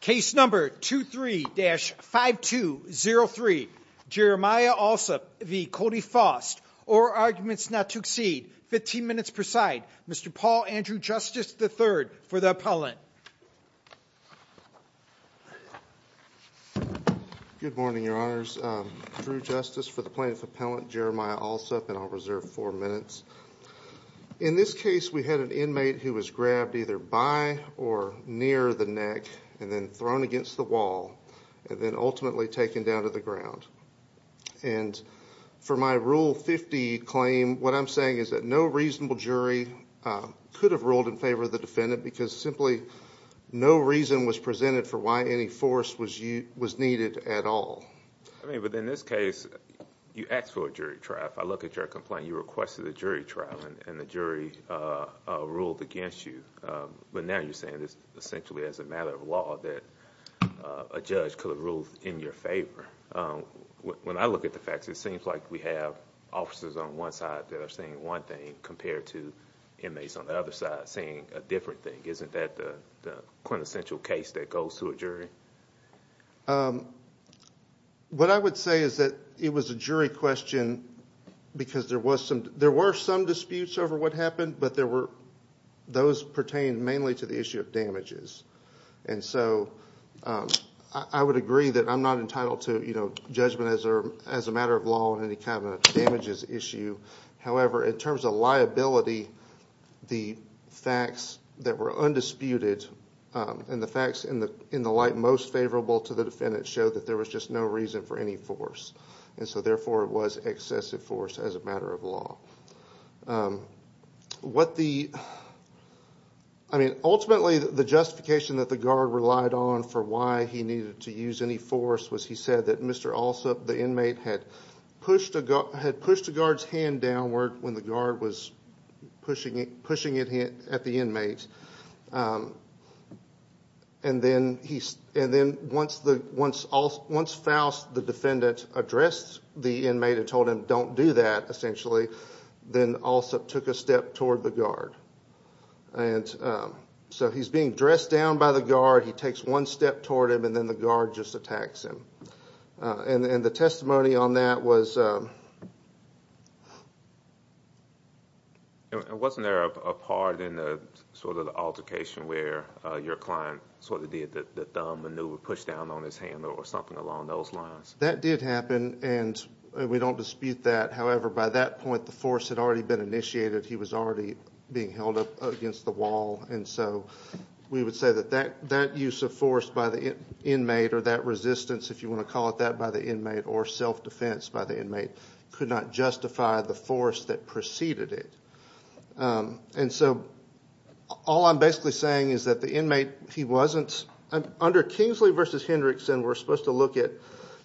Case number 23-5203. Jeremiah Allsopp v. Cody Foust. Or arguments not to exceed 15 minutes per side. Mr. Paul Andrew Justice III for the appellant. Good morning your honors. Drew Justice for the plaintiff appellant Jeremiah Allsopp and I'll reserve four minutes. In this case we had an inmate who was grabbed either by or near the neck and then thrown against the wall and then ultimately taken down to the ground. And for my rule 50 claim what I'm saying is that no reasonable jury could have ruled in favor of the defendant because simply no reason was presented for why any force was you was needed at all. I mean but in this case you asked for a jury trial. If I look at your complaint you requested a jury trial and the jury ruled against you but now you're saying this essentially as a matter of law that a judge could have ruled in your favor. When I look at the facts it seems like we have officers on one side that are saying one thing compared to inmates on the other side saying a different thing. Isn't that the quintessential case that goes to a jury? What I would say is that it was a jury question because there were some disputes over what happened but there were those pertain mainly to the issue of damages. And so I would agree that I'm not entitled to you know judgment as a matter of law on any kind of damages issue. However in terms of liability the facts that were undisputed and the facts in the light most favorable to the defendant showed that there was just no reason for any force and so therefore it was excessive force as a matter of law. What the I mean ultimately the justification that the guard relied on for why he needed to use any force was he said that Mr. Alsup the inmate had pushed a guard's hand downward when the guard was pushing it at the inmates and then he and then once the defendant addressed the inmate and told him don't do that essentially then Alsup took a step toward the guard. And so he's being dressed down by the guard he takes one step toward him and then the guard just attacks him. And the testimony on that was... Wasn't there a part in the altercation where your client sort of that the maneuver pushed down on his hand or something along those lines? That did happen and we don't dispute that however by that point the force had already been initiated he was already being held up against the wall and so we would say that that that use of force by the inmate or that resistance if you want to call it that by the inmate or self-defense by the inmate could not justify the force that preceded it. And so all I'm basically saying is that the inmate he wasn't under Kingsley versus Hendrickson we're supposed to look at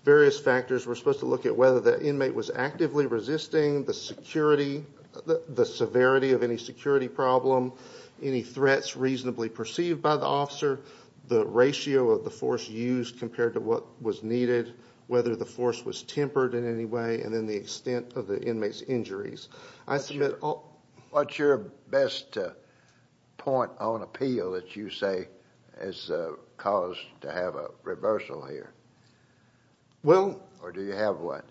various factors we're supposed to look at whether the inmate was actively resisting the security the severity of any security problem any threats reasonably perceived by the officer the ratio of the force used compared to what was needed whether the force was tempered in any way and then the extent of the inmates injuries. I submit... What's your best point on appeal that you say has caused to have a reversal here? Well... Or do you have one?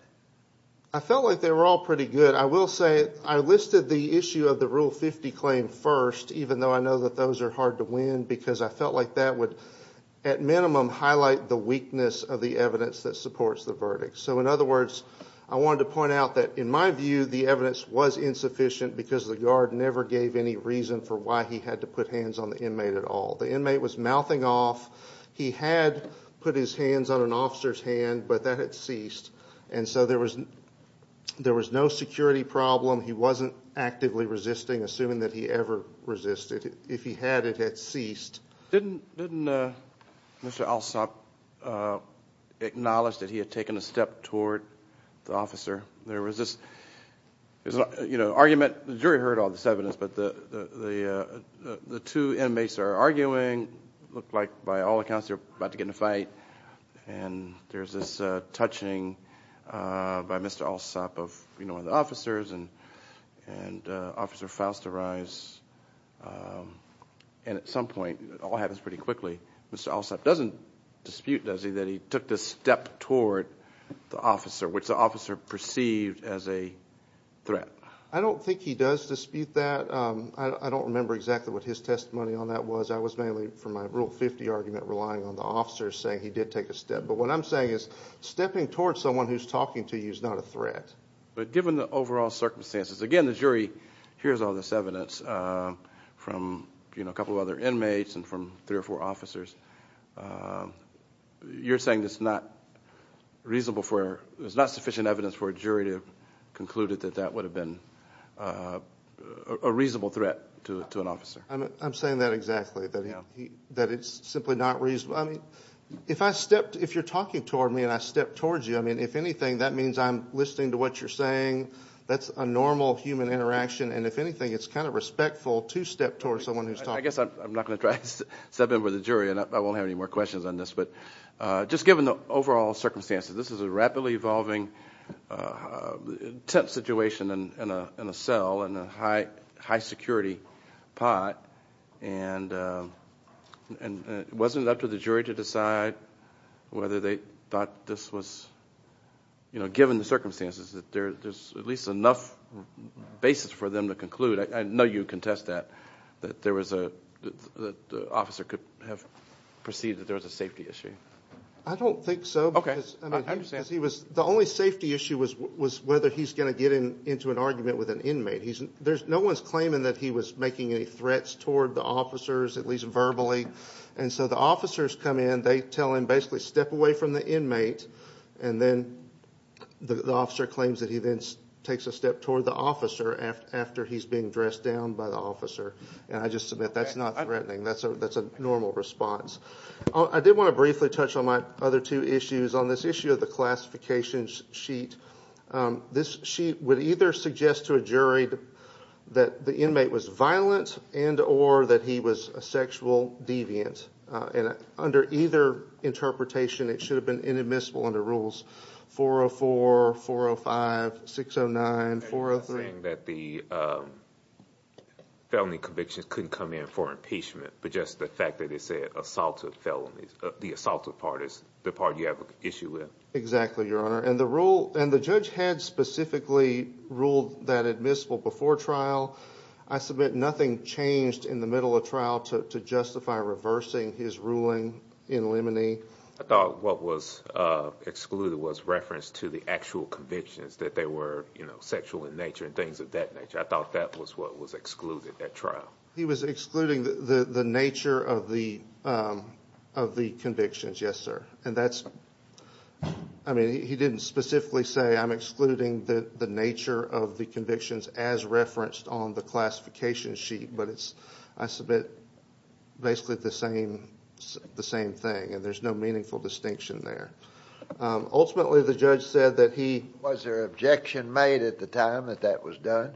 I felt like they were all pretty good I will say I listed the issue of the rule 50 claim first even though I know that those are hard to win because I felt like that would at minimum highlight the weakness of the evidence that supports the verdict so in other words I wanted to point out that in my view the evidence was insufficient because the guard never gave any reason for why he had to put hands on the inmate at all the inmate was mouthing off he had put his hands on an officer's hand but that had ceased and so there was there was no security problem he wasn't actively resisting assuming that he ever resisted if he had it had ceased. Didn't Mr. Alsop acknowledge that he had taken a step toward the officer there was this you know argument the jury heard all this evidence but the the the two inmates are arguing look like by all accounts they're about to get in a fight and there's this touching by Mr. Alsop of you know the officers and and officer Faust arrives and at some point it all happens pretty quickly Mr. Alsop doesn't dispute does he that he took this step toward the officer which the officer perceived as a threat. I don't think he does dispute that I don't remember exactly what his testimony on that was I was mainly for my rule 50 argument relying on the officers saying he did take a step but what I'm saying is stepping toward someone who's talking to you is not a threat. But given the overall circumstances again the jury hears all this evidence from you know a couple of other inmates and from three or four officers you're saying it's not reasonable for there's not sufficient evidence for a jury to conclude it that that would have been a reasonable threat to an officer. I'm saying that exactly that you know that it's simply not reasonable I mean if I stepped if you're talking toward me and I step towards you I mean if anything that means I'm listening to what you're saying that's a normal human interaction and if anything it's kind of respectful to step toward someone who's talking. I guess I'm not going to try to step in with the jury and I won't have any more questions on this but just given the overall circumstances this is a rapidly evolving tent situation and in a cell and a high high security pot and and it wasn't up to the jury to decide whether they thought this was you know given the circumstances that there's at least enough basis for them to conclude I know you contest that that there was a officer could have perceived that there's a safety issue. I don't think so because he was the only safety issue was was whether he's going to get in into an argument with an inmate he's there's no one's claiming that he was making any threats toward the officers at least verbally and so the officers come in they tell him basically step away from the inmate and then the officer claims that he then takes a step toward the officer after he's being dressed down by the officer and I just submit that's not threatening that's a that's a normal response. I did want to briefly touch on my other two issues on this issue of the classifications sheet. This sheet would either suggest to a jury that the inmate was violent and or that he was a sexual deviant and under either interpretation it should have been inadmissible under rules 404, 405, 609, 403. So you're saying that the felony convictions couldn't come in for impeachment but just the fact that they said assaulted felonies the assaulted part is the part you have an issue with? Exactly your honor and the rule and the judge had specifically ruled that admissible before trial I submit nothing changed in the middle of trial to justify reversing his ruling in limine. I thought what was excluded was reference to the actual convictions that they were you know sexual in nature and things of that nature I thought that was what was excluded at trial. He was excluding the the nature of the of the convictions yes sir and that's I mean he didn't specifically say I'm excluding the the nature of the convictions as referenced on the classification sheet but it's I submit basically the same the same thing and there's no meaningful distinction there. Ultimately the judge said that he... Was there objection made at the time that that was done?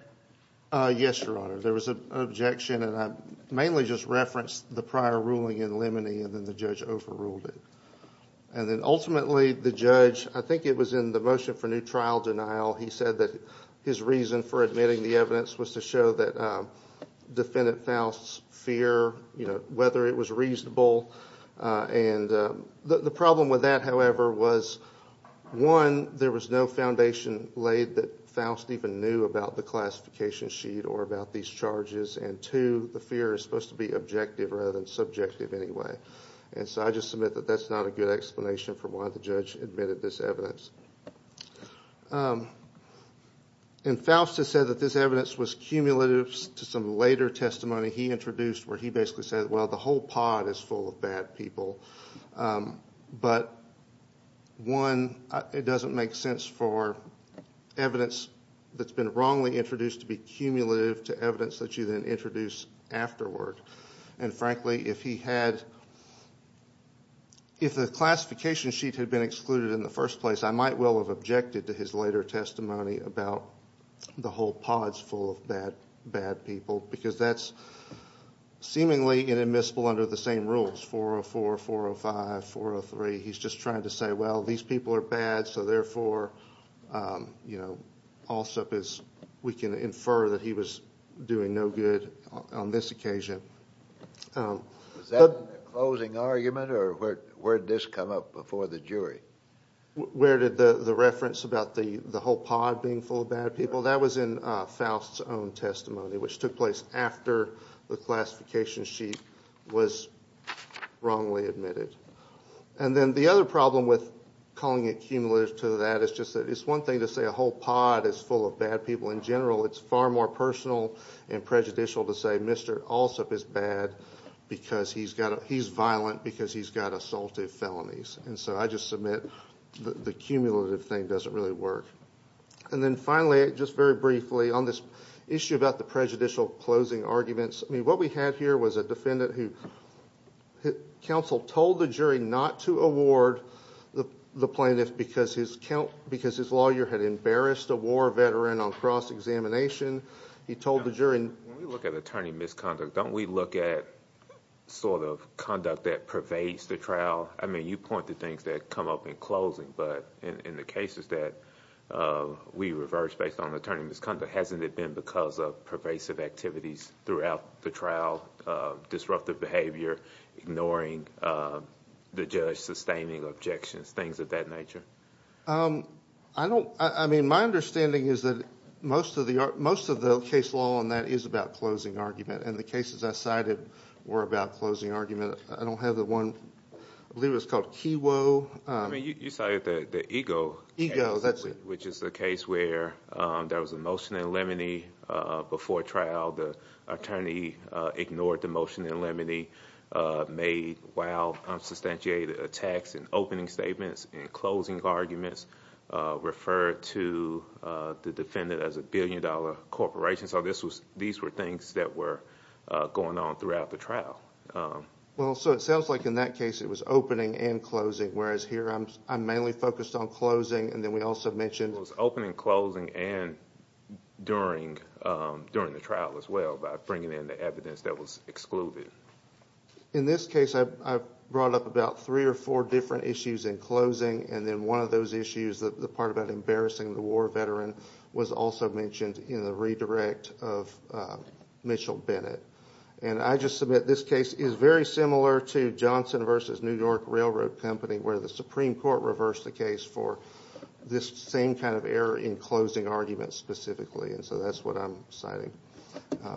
Yes your honor there was an objection and I mainly just referenced the prior ruling in limine and then the judge overruled it and then ultimately the judge I think it was in the motion for new trial denial he said that his reason for admitting the evidence was to show that defendant Faust's fear you know whether it was reasonable and the problem with that however was one there was no foundation laid that Faust even knew about the classification sheet or about these charges and two the fear is supposed to be objective rather than subjective anyway and so I just submit that that's not a good explanation for why the judge admitted this evidence and Faust has said that this evidence was cumulative to some later testimony he introduced where he basically said well the whole pod is full of bad people but one it doesn't make sense for evidence that's been wrongly introduced to be cumulative to evidence that you then introduce afterward and frankly if he had if the classification sheet had been excluded in the first place I might well have objected to his later testimony about the whole pods full of bad bad people because that's seemingly an admissible under the same rules 404 405 403 he's just trying to say well these people are bad so therefore you know also because we can infer that he was doing no good on this occasion that closing argument or word this come up before the jury where did the the reference about the the whole pod being full of bad people that was in Faust's own testimony which took place after the classification sheet was wrongly admitted and then the other problem with calling it cumulative to that is just that it's one thing to say a whole pod is full of bad people in general it's far more personal and prejudicial to say mr. also is bad because he's got he's violent because he's got assaulted felonies and so I just submit the cumulative thing doesn't really work and then finally just very briefly on this issue about the prejudicial closing arguments I mean what we had here was a defendant who counsel told the jury not to award the plaintiff because his count because his lawyer had embarrassed a war veteran on cross-examination he told the jury look at attorney misconduct don't we look at sort of conduct that pervades the trial I mean you point the things that come up in closing but in the cases that we reverse based on hasn't it been because of pervasive activities throughout the trial disruptive behavior ignoring the judge sustaining objections things of that nature I don't I mean my understanding is that most of the most of the case law on that is about closing argument and the cases I cited were about closing argument I don't have the one I believe it's called Kiwo I mean you say that the ego ego that's it which is the case where there was a motion in limine before trial the attorney ignored the motion in limine made while I'm substantiated attacks and opening statements and closing arguments referred to the defendant as a billion-dollar corporation so this was these were things that were going on throughout the trial well so it sounds like in that it was opening and closing whereas here I'm mainly focused on closing and then we also mentioned opening closing and during during the trial as well by bringing in the evidence that was excluded in this case I brought up about three or four different issues in closing and then one of those issues that the part about embarrassing the war veteran was also mentioned in the redirect of Mitchell Bennett and I just submit this case is very similar to Johnson vs. New York Railroad Company where the Supreme Court reversed the case for this same kind of error in closing arguments specifically and so that's what I'm citing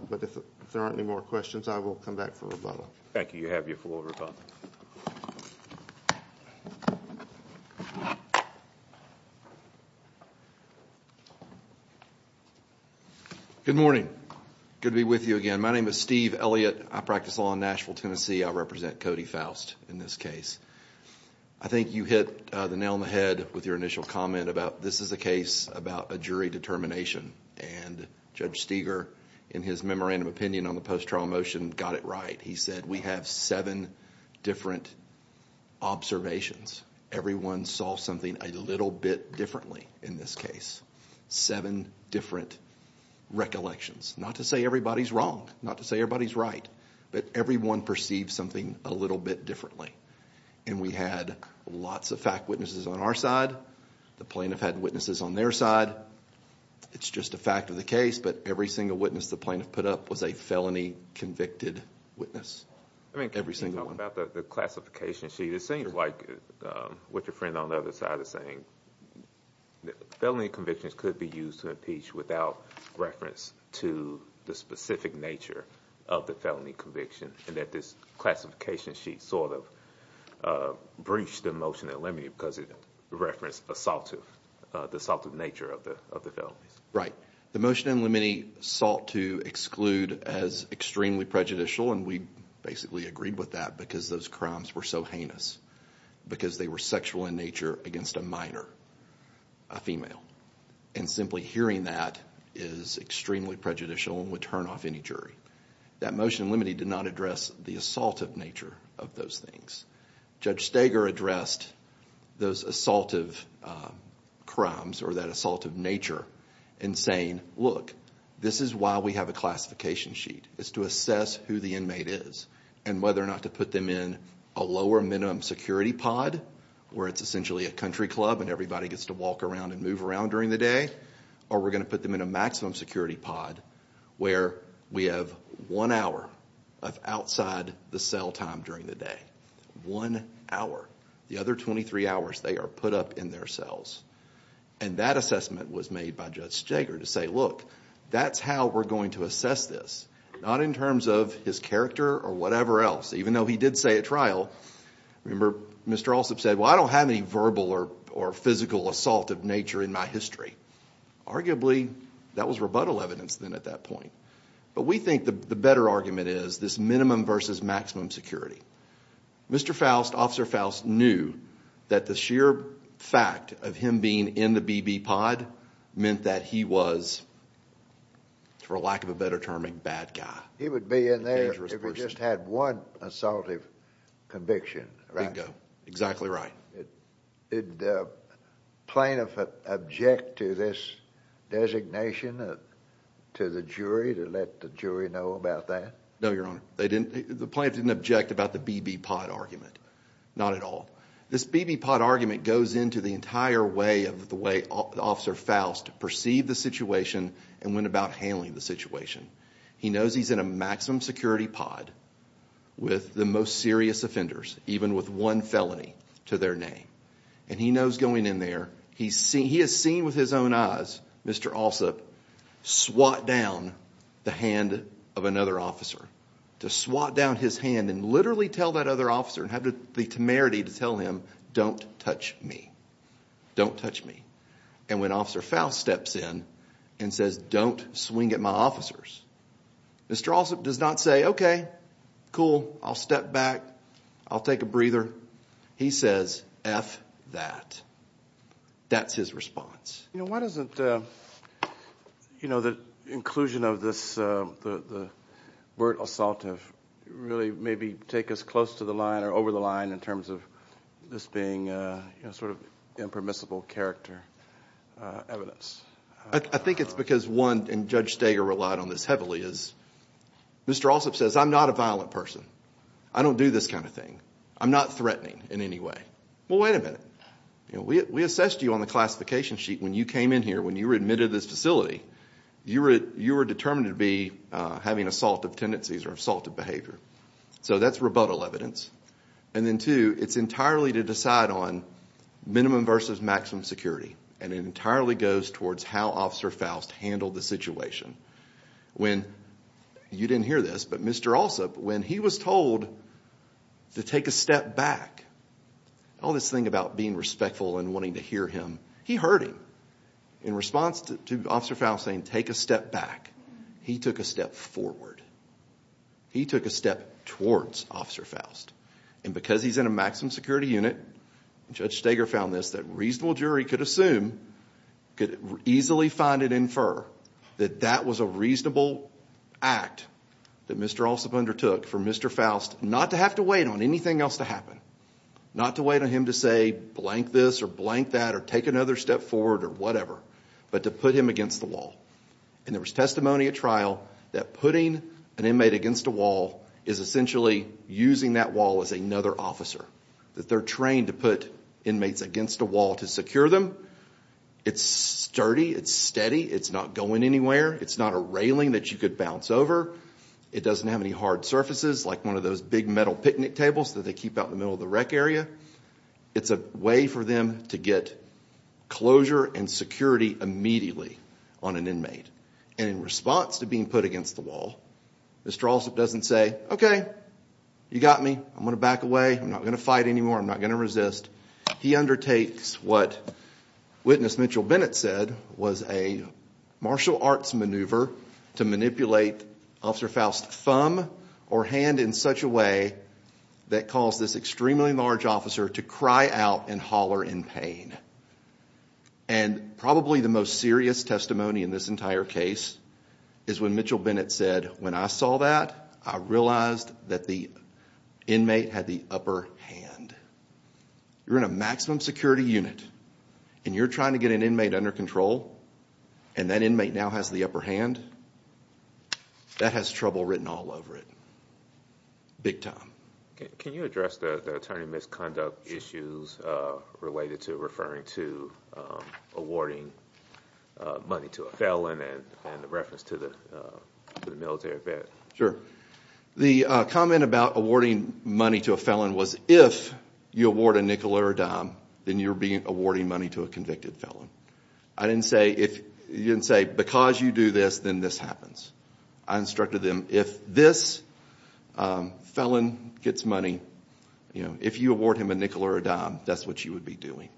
but if there aren't any more questions I will come back for a bubble thank you you have your full over good morning good to be with you again my name is Steve Elliott I practice law Nashville Tennessee I represent Cody Faust in this case I think you hit the nail on the head with your initial comment about this is a case about a jury determination and Judge Steger in his memorandum opinion on the post trial motion got it right he said we have seven different observations everyone saw something a little bit differently in this case seven different recollections not to say everybody's wrong not to say everybody's right but everyone perceived something a little bit differently and we had lots of fact witnesses on our side the plaintiff had witnesses on their side it's just a fact of the case but every single witness the plaintiff put up was a felony convicted witness I mean every single one about the classification sheet it seems like what your friend on the other side of saying felony convictions could be used to impeach without reference to the specific nature of the felony conviction and that this classification sheet sort of breached the motion that let me because it referenced assaultive the assaultive nature of the of the felonies right the motion unlimited sought to exclude as extremely prejudicial and we basically agreed with that because those crimes were so heinous because they were sexual in nature against a minor a female and simply hearing that is extremely prejudicial and would turn off any jury that motion limited not address the assault of nature of those things judge stager addressed those assaultive crimes or that assault of nature and saying look this is why we have a classification sheet is to assess who the inmate is and whether or not to put them in a lower minimum security pod where it's essentially a country club and everybody gets to walk around and move around during the day or we're going to put them in a maximum security pod where we have one hour of outside the cell time during the day one hour the other 23 hours they are put up in their cells and that assessment was made by judge stager to say look that's how we're going to assess this not in terms of his character or whatever else even though he did say a trial Mr. also said well I don't have any verbal or or physical assault of nature in my history arguably that was rebuttal evidence than at that point but we think the better argument is this minimum versus maximum security mr. Faust officer Faust knew that the sheer fact of him being in the BB pod meant that he was for lack of a better term a bad guy he would be in there if we just had one assaultive conviction right go exactly right it did the plaintiff object to this designation to the jury to let the jury know about that no your honor they didn't the plant didn't object about the BB pod argument not at all this BB pod argument goes into the entire way of the way officer Faust perceived the situation and went about handling the situation he knows he's in a maximum security pod with the most serious offenders even with one felony to their name and he knows going in there he's seen he has seen with his own eyes mr. also swat down the hand of another officer to swat down his hand and literally tell that other officer and have the temerity to tell him don't touch me don't touch me and when officer Faust steps in and says don't swing at my officers mr. also does not say okay cool I'll step back I'll take a breather he says F that that's his response you know why doesn't you know the inclusion of this the word assaultive really maybe take us close to the line or over the line in terms of this being a sort of impermissible character evidence I think it's because one and judge stagger relied on this heavily is mr. also says I'm not a violent person I don't do this kind of thing I'm not threatening in any way well wait a minute you know we assessed you on the classification sheet when you came in here when you were admitted to this facility you were you were determined to be having assaultive tendencies or assaulted behavior so that's rebuttal evidence and then two it's entirely to decide on minimum versus maximum security and it entirely goes towards how officer Faust handled the situation when you didn't hear this but mr. also when he was told to take a step back all this thing about being respectful and wanting to hear him he heard him in response to officer Faust saying take a step back he took a step forward he took a step towards officer Faust and because he's in a maximum security unit judge Steger found this that reasonable jury could assume could easily find it infer that that was a reasonable act that mr. also undertook for mr. Faust not to have to wait on anything else to happen not to wait on him to say blank this or blank that or take another step forward or whatever but to put him against the wall and there was testimony at trial that putting an inmate against a wall is essentially using that wall as another officer that they're trained to put inmates against a wall to secure them it's sturdy it's steady it's not going anywhere it's not a railing that you could bounce over it doesn't have any hard surfaces like one of those big metal picnic tables that they keep out the middle of the rec area it's a way for them to get closure and security immediately on an inmate and in response to being put against the wall mr. also doesn't say okay you got me I'm gonna back away I'm not gonna fight anymore I'm not gonna resist he undertakes what witness Mitchell Bennett said was a martial arts maneuver to manipulate officer Faust thumb or hand in such a way that caused this extremely large officer to cry out and holler in pain and probably the most serious testimony in this entire case is when Mitchell Bennett said when I saw that I realized that the inmate had the upper hand you're in a maximum security unit and you're trying to get an inmate under control and that inmate now has the upper hand that has trouble written all over it big time can you address the attorney misconduct issues related to referring to awarding money to a felon and the reference to the military vet sure the comment about awarding money to a felon was if you award a nickel or a dime then you're being awarding money to a convicted felon I didn't say if you didn't say because you do this then this happens I instructed them if this felon gets money you know if you award him a nickel or a dime that's what you would be doing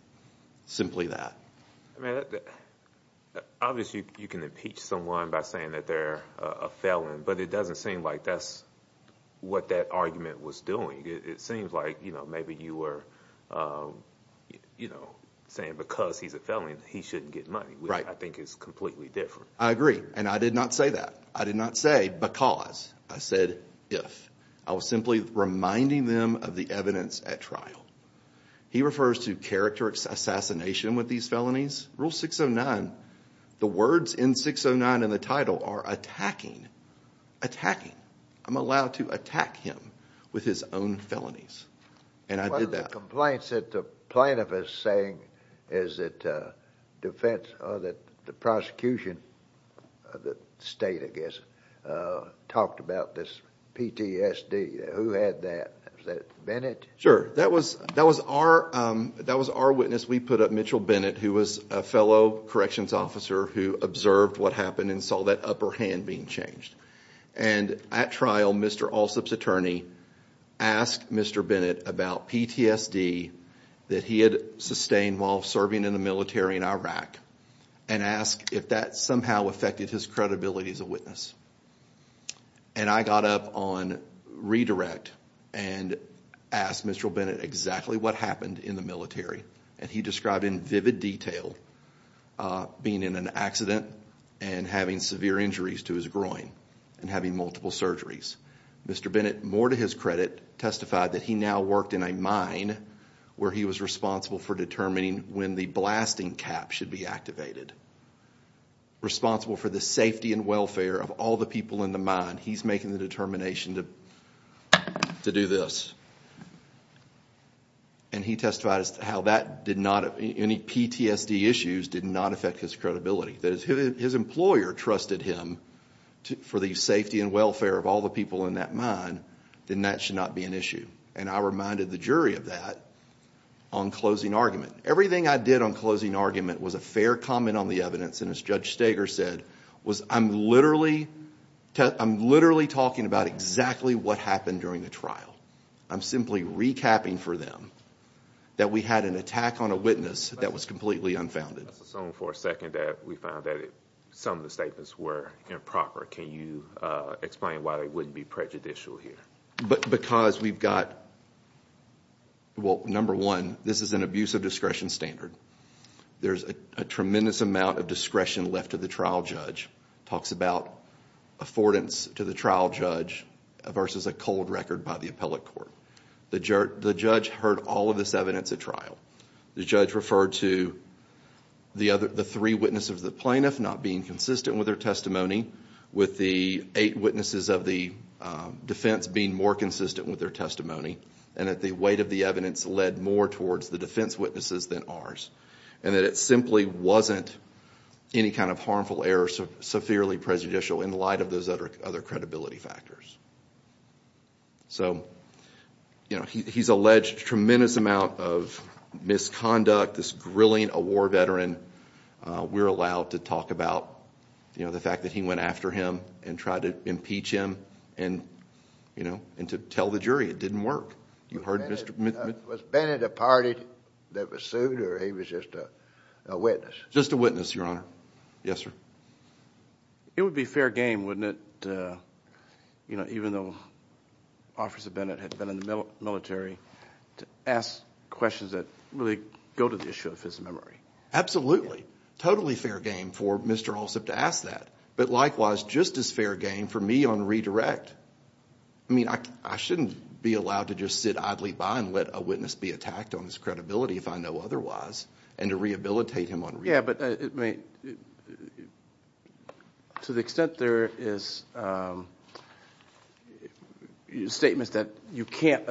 simply that obviously you can impeach someone by saying that they're a felon but it doesn't seem like that's what that argument was doing it seems like you know maybe you were you know saying because he's a felony he shouldn't get money right I think it's completely different I agree and I did not say that I did not say because I said if I was simply reminding them of the evidence at trial he refers to character assassination with these felonies rule 609 the words in 609 in the title are attacking attacking I'm allowed to attack him with his own felonies and I did that complaints that the plaintiff is saying is that defense or that the prosecution the state I guess talked about this PTSD who had that Bennett sure that was that was our that was our witness we put up Mitchell Bennett who was a fellow corrections officer who observed what happened and saw that upper hand being changed and at trial mr. Alsop's attorney asked mr. Bennett about PTSD that he had sustained while serving in the military in Iraq and asked if that somehow affected his credibility as a witness and I got up on redirect and asked mr. Bennett exactly what happened in the military and he described in vivid detail being in an accident and having severe injuries to his groin and having multiple surgeries mr. Bennett more to his credit testified that he now worked in a mine where he was responsible for determining when the blasting cap should be activated responsible for the safety and welfare of all the people in the mind he's making the determination to do this and he testified as to how that did not have any PTSD issues did not affect his credibility that his employer trusted him to for the safety and welfare of all the people in that mine then that should not be an issue and I reminded the jury of that on closing argument everything I did on closing argument was a fair comment on the evidence and as Judge Steger said was I'm literally I'm literally talking about exactly what happened during the trial I'm simply recapping for them that we had an attack on a witness that was completely unfounded for a second that we found that some of the statements were improper can you explain why they wouldn't be prejudicial here but because we've got well number one this is an abuse of discretion standard there's a tremendous amount of discretion left to the trial judge talks about affordance to the trial judge versus a cold record by the appellate court the jerk the judge heard all of this evidence at trial the judge referred to the other the three witnesses of the plaintiff not being consistent with their testimony with the eight witnesses of the defense being more consistent with their testimony and at the weight of the evidence led more towards the defense witnesses than ours and that it simply wasn't any kind of harmful error so severely prejudicial in light of those other other credibility factors so you know he's alleged tremendous amount of misconduct this grilling a war veteran we're allowed to talk about you know the fact that he went after him and tried to impeach him and you know and to tell the jury it didn't work you heard mr. Bennett a party that was sued or he was just a witness just a witness your honor yes sir it would be fair game wouldn't it you know even though officer Bennett had been in the military to ask questions that really go to the issue of his memory absolutely totally fair game for mr. also to ask that but likewise just as fair game for me on redirect I mean I shouldn't be allowed to just sit idly by and let a witness be attacked on his credibility if I know otherwise and to rehabilitate him on yeah but it may to the extent there is statements that you can't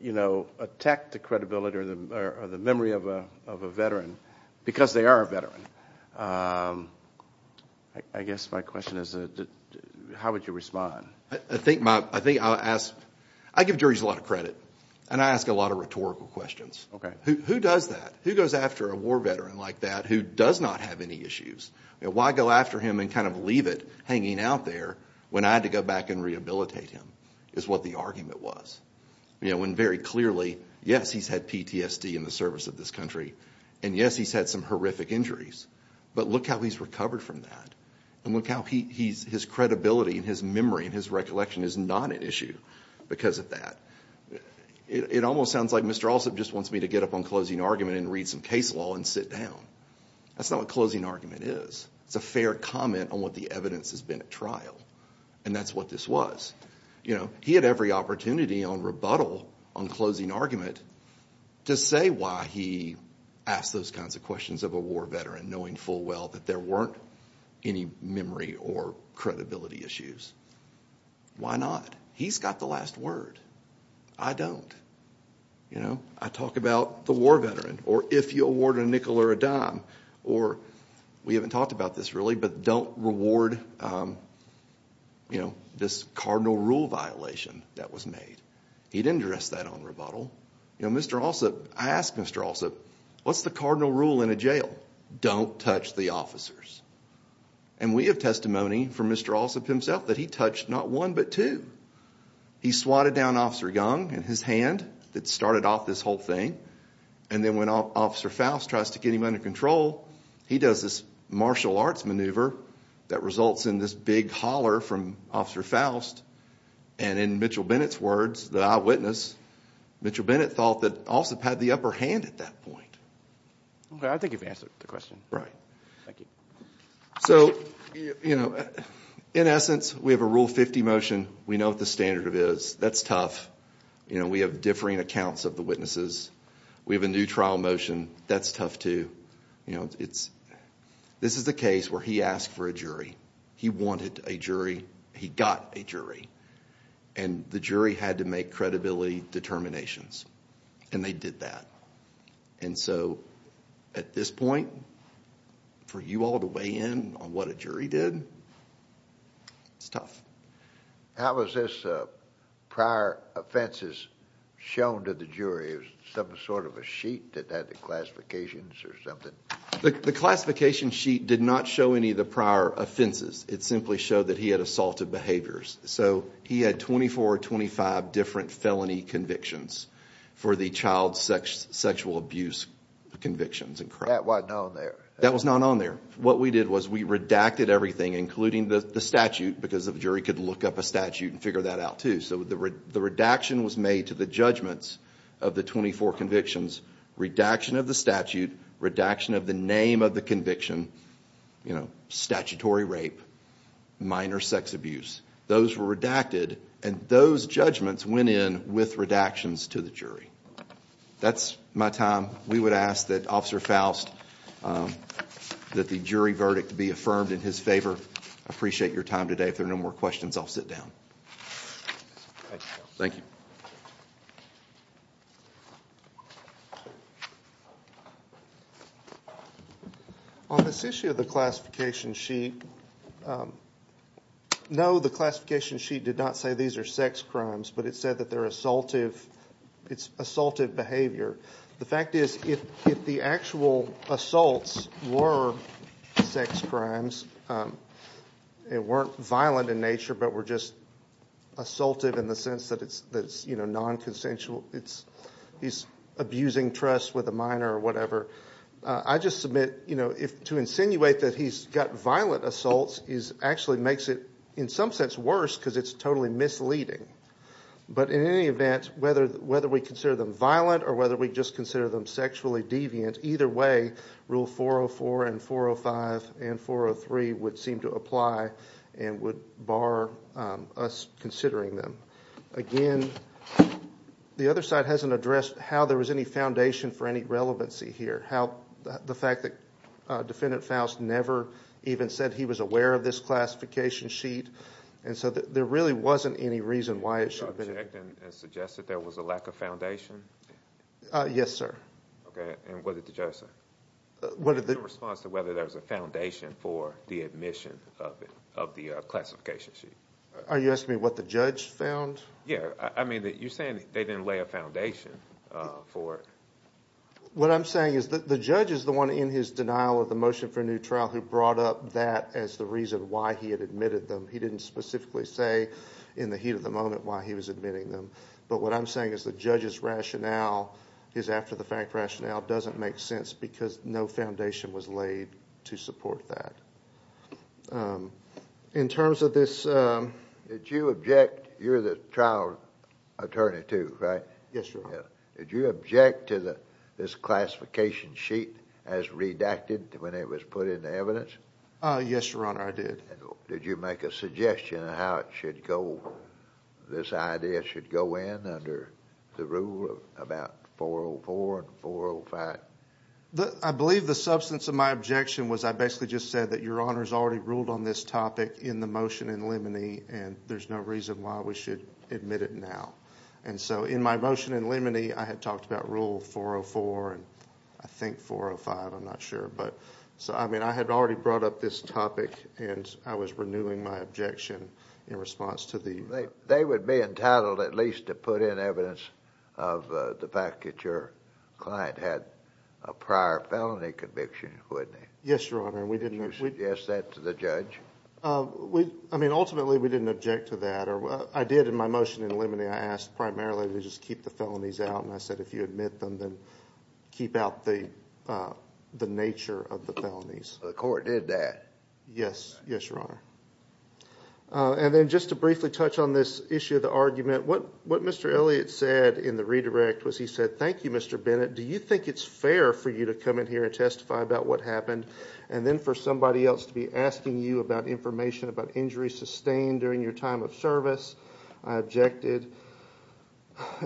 you know attack the credibility or the memory of a of a veteran because they are a veteran I guess my question is how would you respond I think my I think I'll ask I give juries a lot of credit and I ask a lot of rhetorical questions okay who does that who goes after a war veteran like that who does not have any issues why go after him and kind of leave it hanging out there when I had to go back and rehabilitate him is what the argument was you know when very clearly yes he's had PTSD in the service of this country and yes he's had some horrific injuries but look how he's recovered from that and look how he's his credibility and his memory and his recollection is not an issue because of that it almost sounds like mr. also just wants me to get up on closing argument and read some case law and sit down that's not what closing argument is it's a fair comment on what the evidence has been at trial and that's what this was you know he had every opportunity on rebuttal on closing argument to say why he asked those kinds of questions of a veteran knowing full well that there weren't any memory or credibility issues why not he's got the last word I don't you know I talked about the war veteran or if you award a nickel or a dime or we haven't talked about this really but don't reward you know this cardinal rule violation that was made he didn't dress that on rebuttal you know mr. also I asked mr. also what's the cardinal rule in a jail don't touch the officers and we have testimony for mr. also himself that he touched not one but two he swatted down officer young and his hand that started off this whole thing and then went off officer Faust tries to get him under control he does this martial arts maneuver that results in this big holler from officer Faust and in Mitchell Bennett's words that I Mitchell Bennett thought that also had the upper hand at that point I think you've answered the question right thank you so you know in essence we have a rule 50 motion we know what the standard of is that's tough you know we have differing accounts of the witnesses we have a new trial motion that's tough to you know it's this is the case where he asked for a jury he wanted a jury he got a jury and the jury had to make credibility determinations and they did that and so at this point for you all to weigh in on what a jury did it's tough how was this prior offenses shown to the jury of some sort of a sheet that had the classifications or something the classification sheet did not show any of offenses it simply showed that he had assaulted behaviors so he had 24 or 25 different felony convictions for the child sex sexual abuse convictions and crap what no there that was not on there what we did was we redacted everything including the statute because of jury could look up a statute and figure that out too so the red the redaction was made to the judgments of the 24 convictions redaction of the statute redaction of the name of the conviction you know statutory rape minor sex abuse those were redacted and those judgments went in with redactions to the jury that's my time we would ask that officer Faust that the jury verdict be affirmed in his favor appreciate your time today if there are no more questions I'll sit down thank you on this issue of the classification sheet no the classification sheet did not say these are sex crimes but it said that they're assaultive it's assaultive behavior the fact is if the actual assaults were sex crimes it weren't violent in nature but we're just assaultive in the sense that it's that's you know non-consensual it's he's abusing trust with a minor or whatever I just submit you know if to insinuate that he's got violent assaults is actually makes it in some sense worse because it's totally misleading but in any event whether whether we consider them violent or whether we just consider them sexually deviant either way rule 404 and 405 and 403 would seem to apply and would bar us considering them again the other side hasn't addressed how there was any foundation for any relevancy here how the fact that defendant Faust never even said he was aware of this classification sheet and so that there really wasn't any reason why it should have been suggested there was a lack of foundation yes sir okay and what did the judge say what did the response to whether there's a foundation for the admission of the classification sheet are you asking me what the judge found yeah I mean that you're saying they didn't lay a foundation for what I'm saying is that the judge is the one in his denial of the motion for a new trial who brought up that as the reason why he had admitted them he didn't specifically say in the heat of the moment why he was admitting them but what I'm saying is the judge's rationale is after-the-fact rationale doesn't make sense because no foundation was laid to support that in terms of this did you object you're the trial attorney to right yes sir did you object to the this classification sheet as redacted when it was put into evidence yes your did did you make a suggestion how it should go this idea should go in under the rule of about 404 and 405 but I believe the substance of my objection was I basically just said that your honors already ruled on this topic in the motion in limine and there's no reason why we should admit it now and so in my motion in limine I had talked about rule 404 and I think 405 I'm not but so I mean I had already brought up this topic and I was renewing my objection in response to the right they would be entitled at least to put in evidence of the fact that your client had a prior felony conviction wouldn't he yes your honor we didn't use yes that to the judge we I mean ultimately we didn't object to that or what I did in my motion in limine I asked primarily to just keep the felonies out and I said if you admit them then keep out the the nature of the felonies the court did that yes yes your honor and then just to briefly touch on this issue the argument what what mr. Elliott said in the redirect was he said thank you mr. Bennett do you think it's fair for you to come in here and testify about what happened and then for somebody else to be asking you about information about injuries sustained during your time of service I objected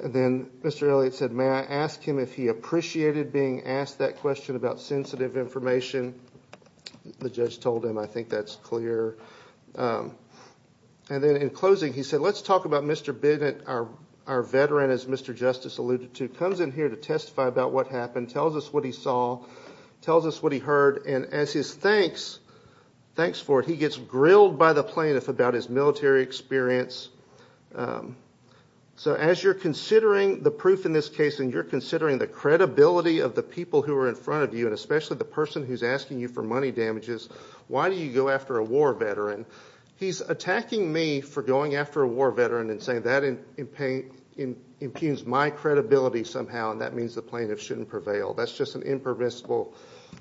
and then mr. Elliott said may I ask him if he appreciated being asked that question about sensitive information the judge told him I think that's clear and then in closing he said let's talk about mr. Bennett our our veteran as mr. justice alluded to comes in here to testify about what happened tells us what he saw tells us what he heard and as his thanks thanks for it he gets grilled by the plaintiff about his military experience so as you're considering the proof in this case and you're considering the credibility of the people who are in front of you and especially the person who's asking you for money damages why do you go after a war veteran he's attacking me for going after a war veteran and saying that in pain in impugns my credibility somehow and that means the plaintiff shouldn't prevail that's just an impermissible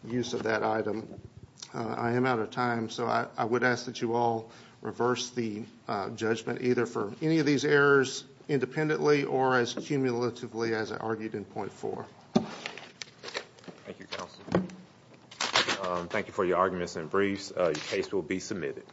use of that item I am out of time so I would ask that you all reverse the judgment either for any of these errors independently or as cumulatively as I argued in 0.4 thank you for your arguments and briefs your case will be submitted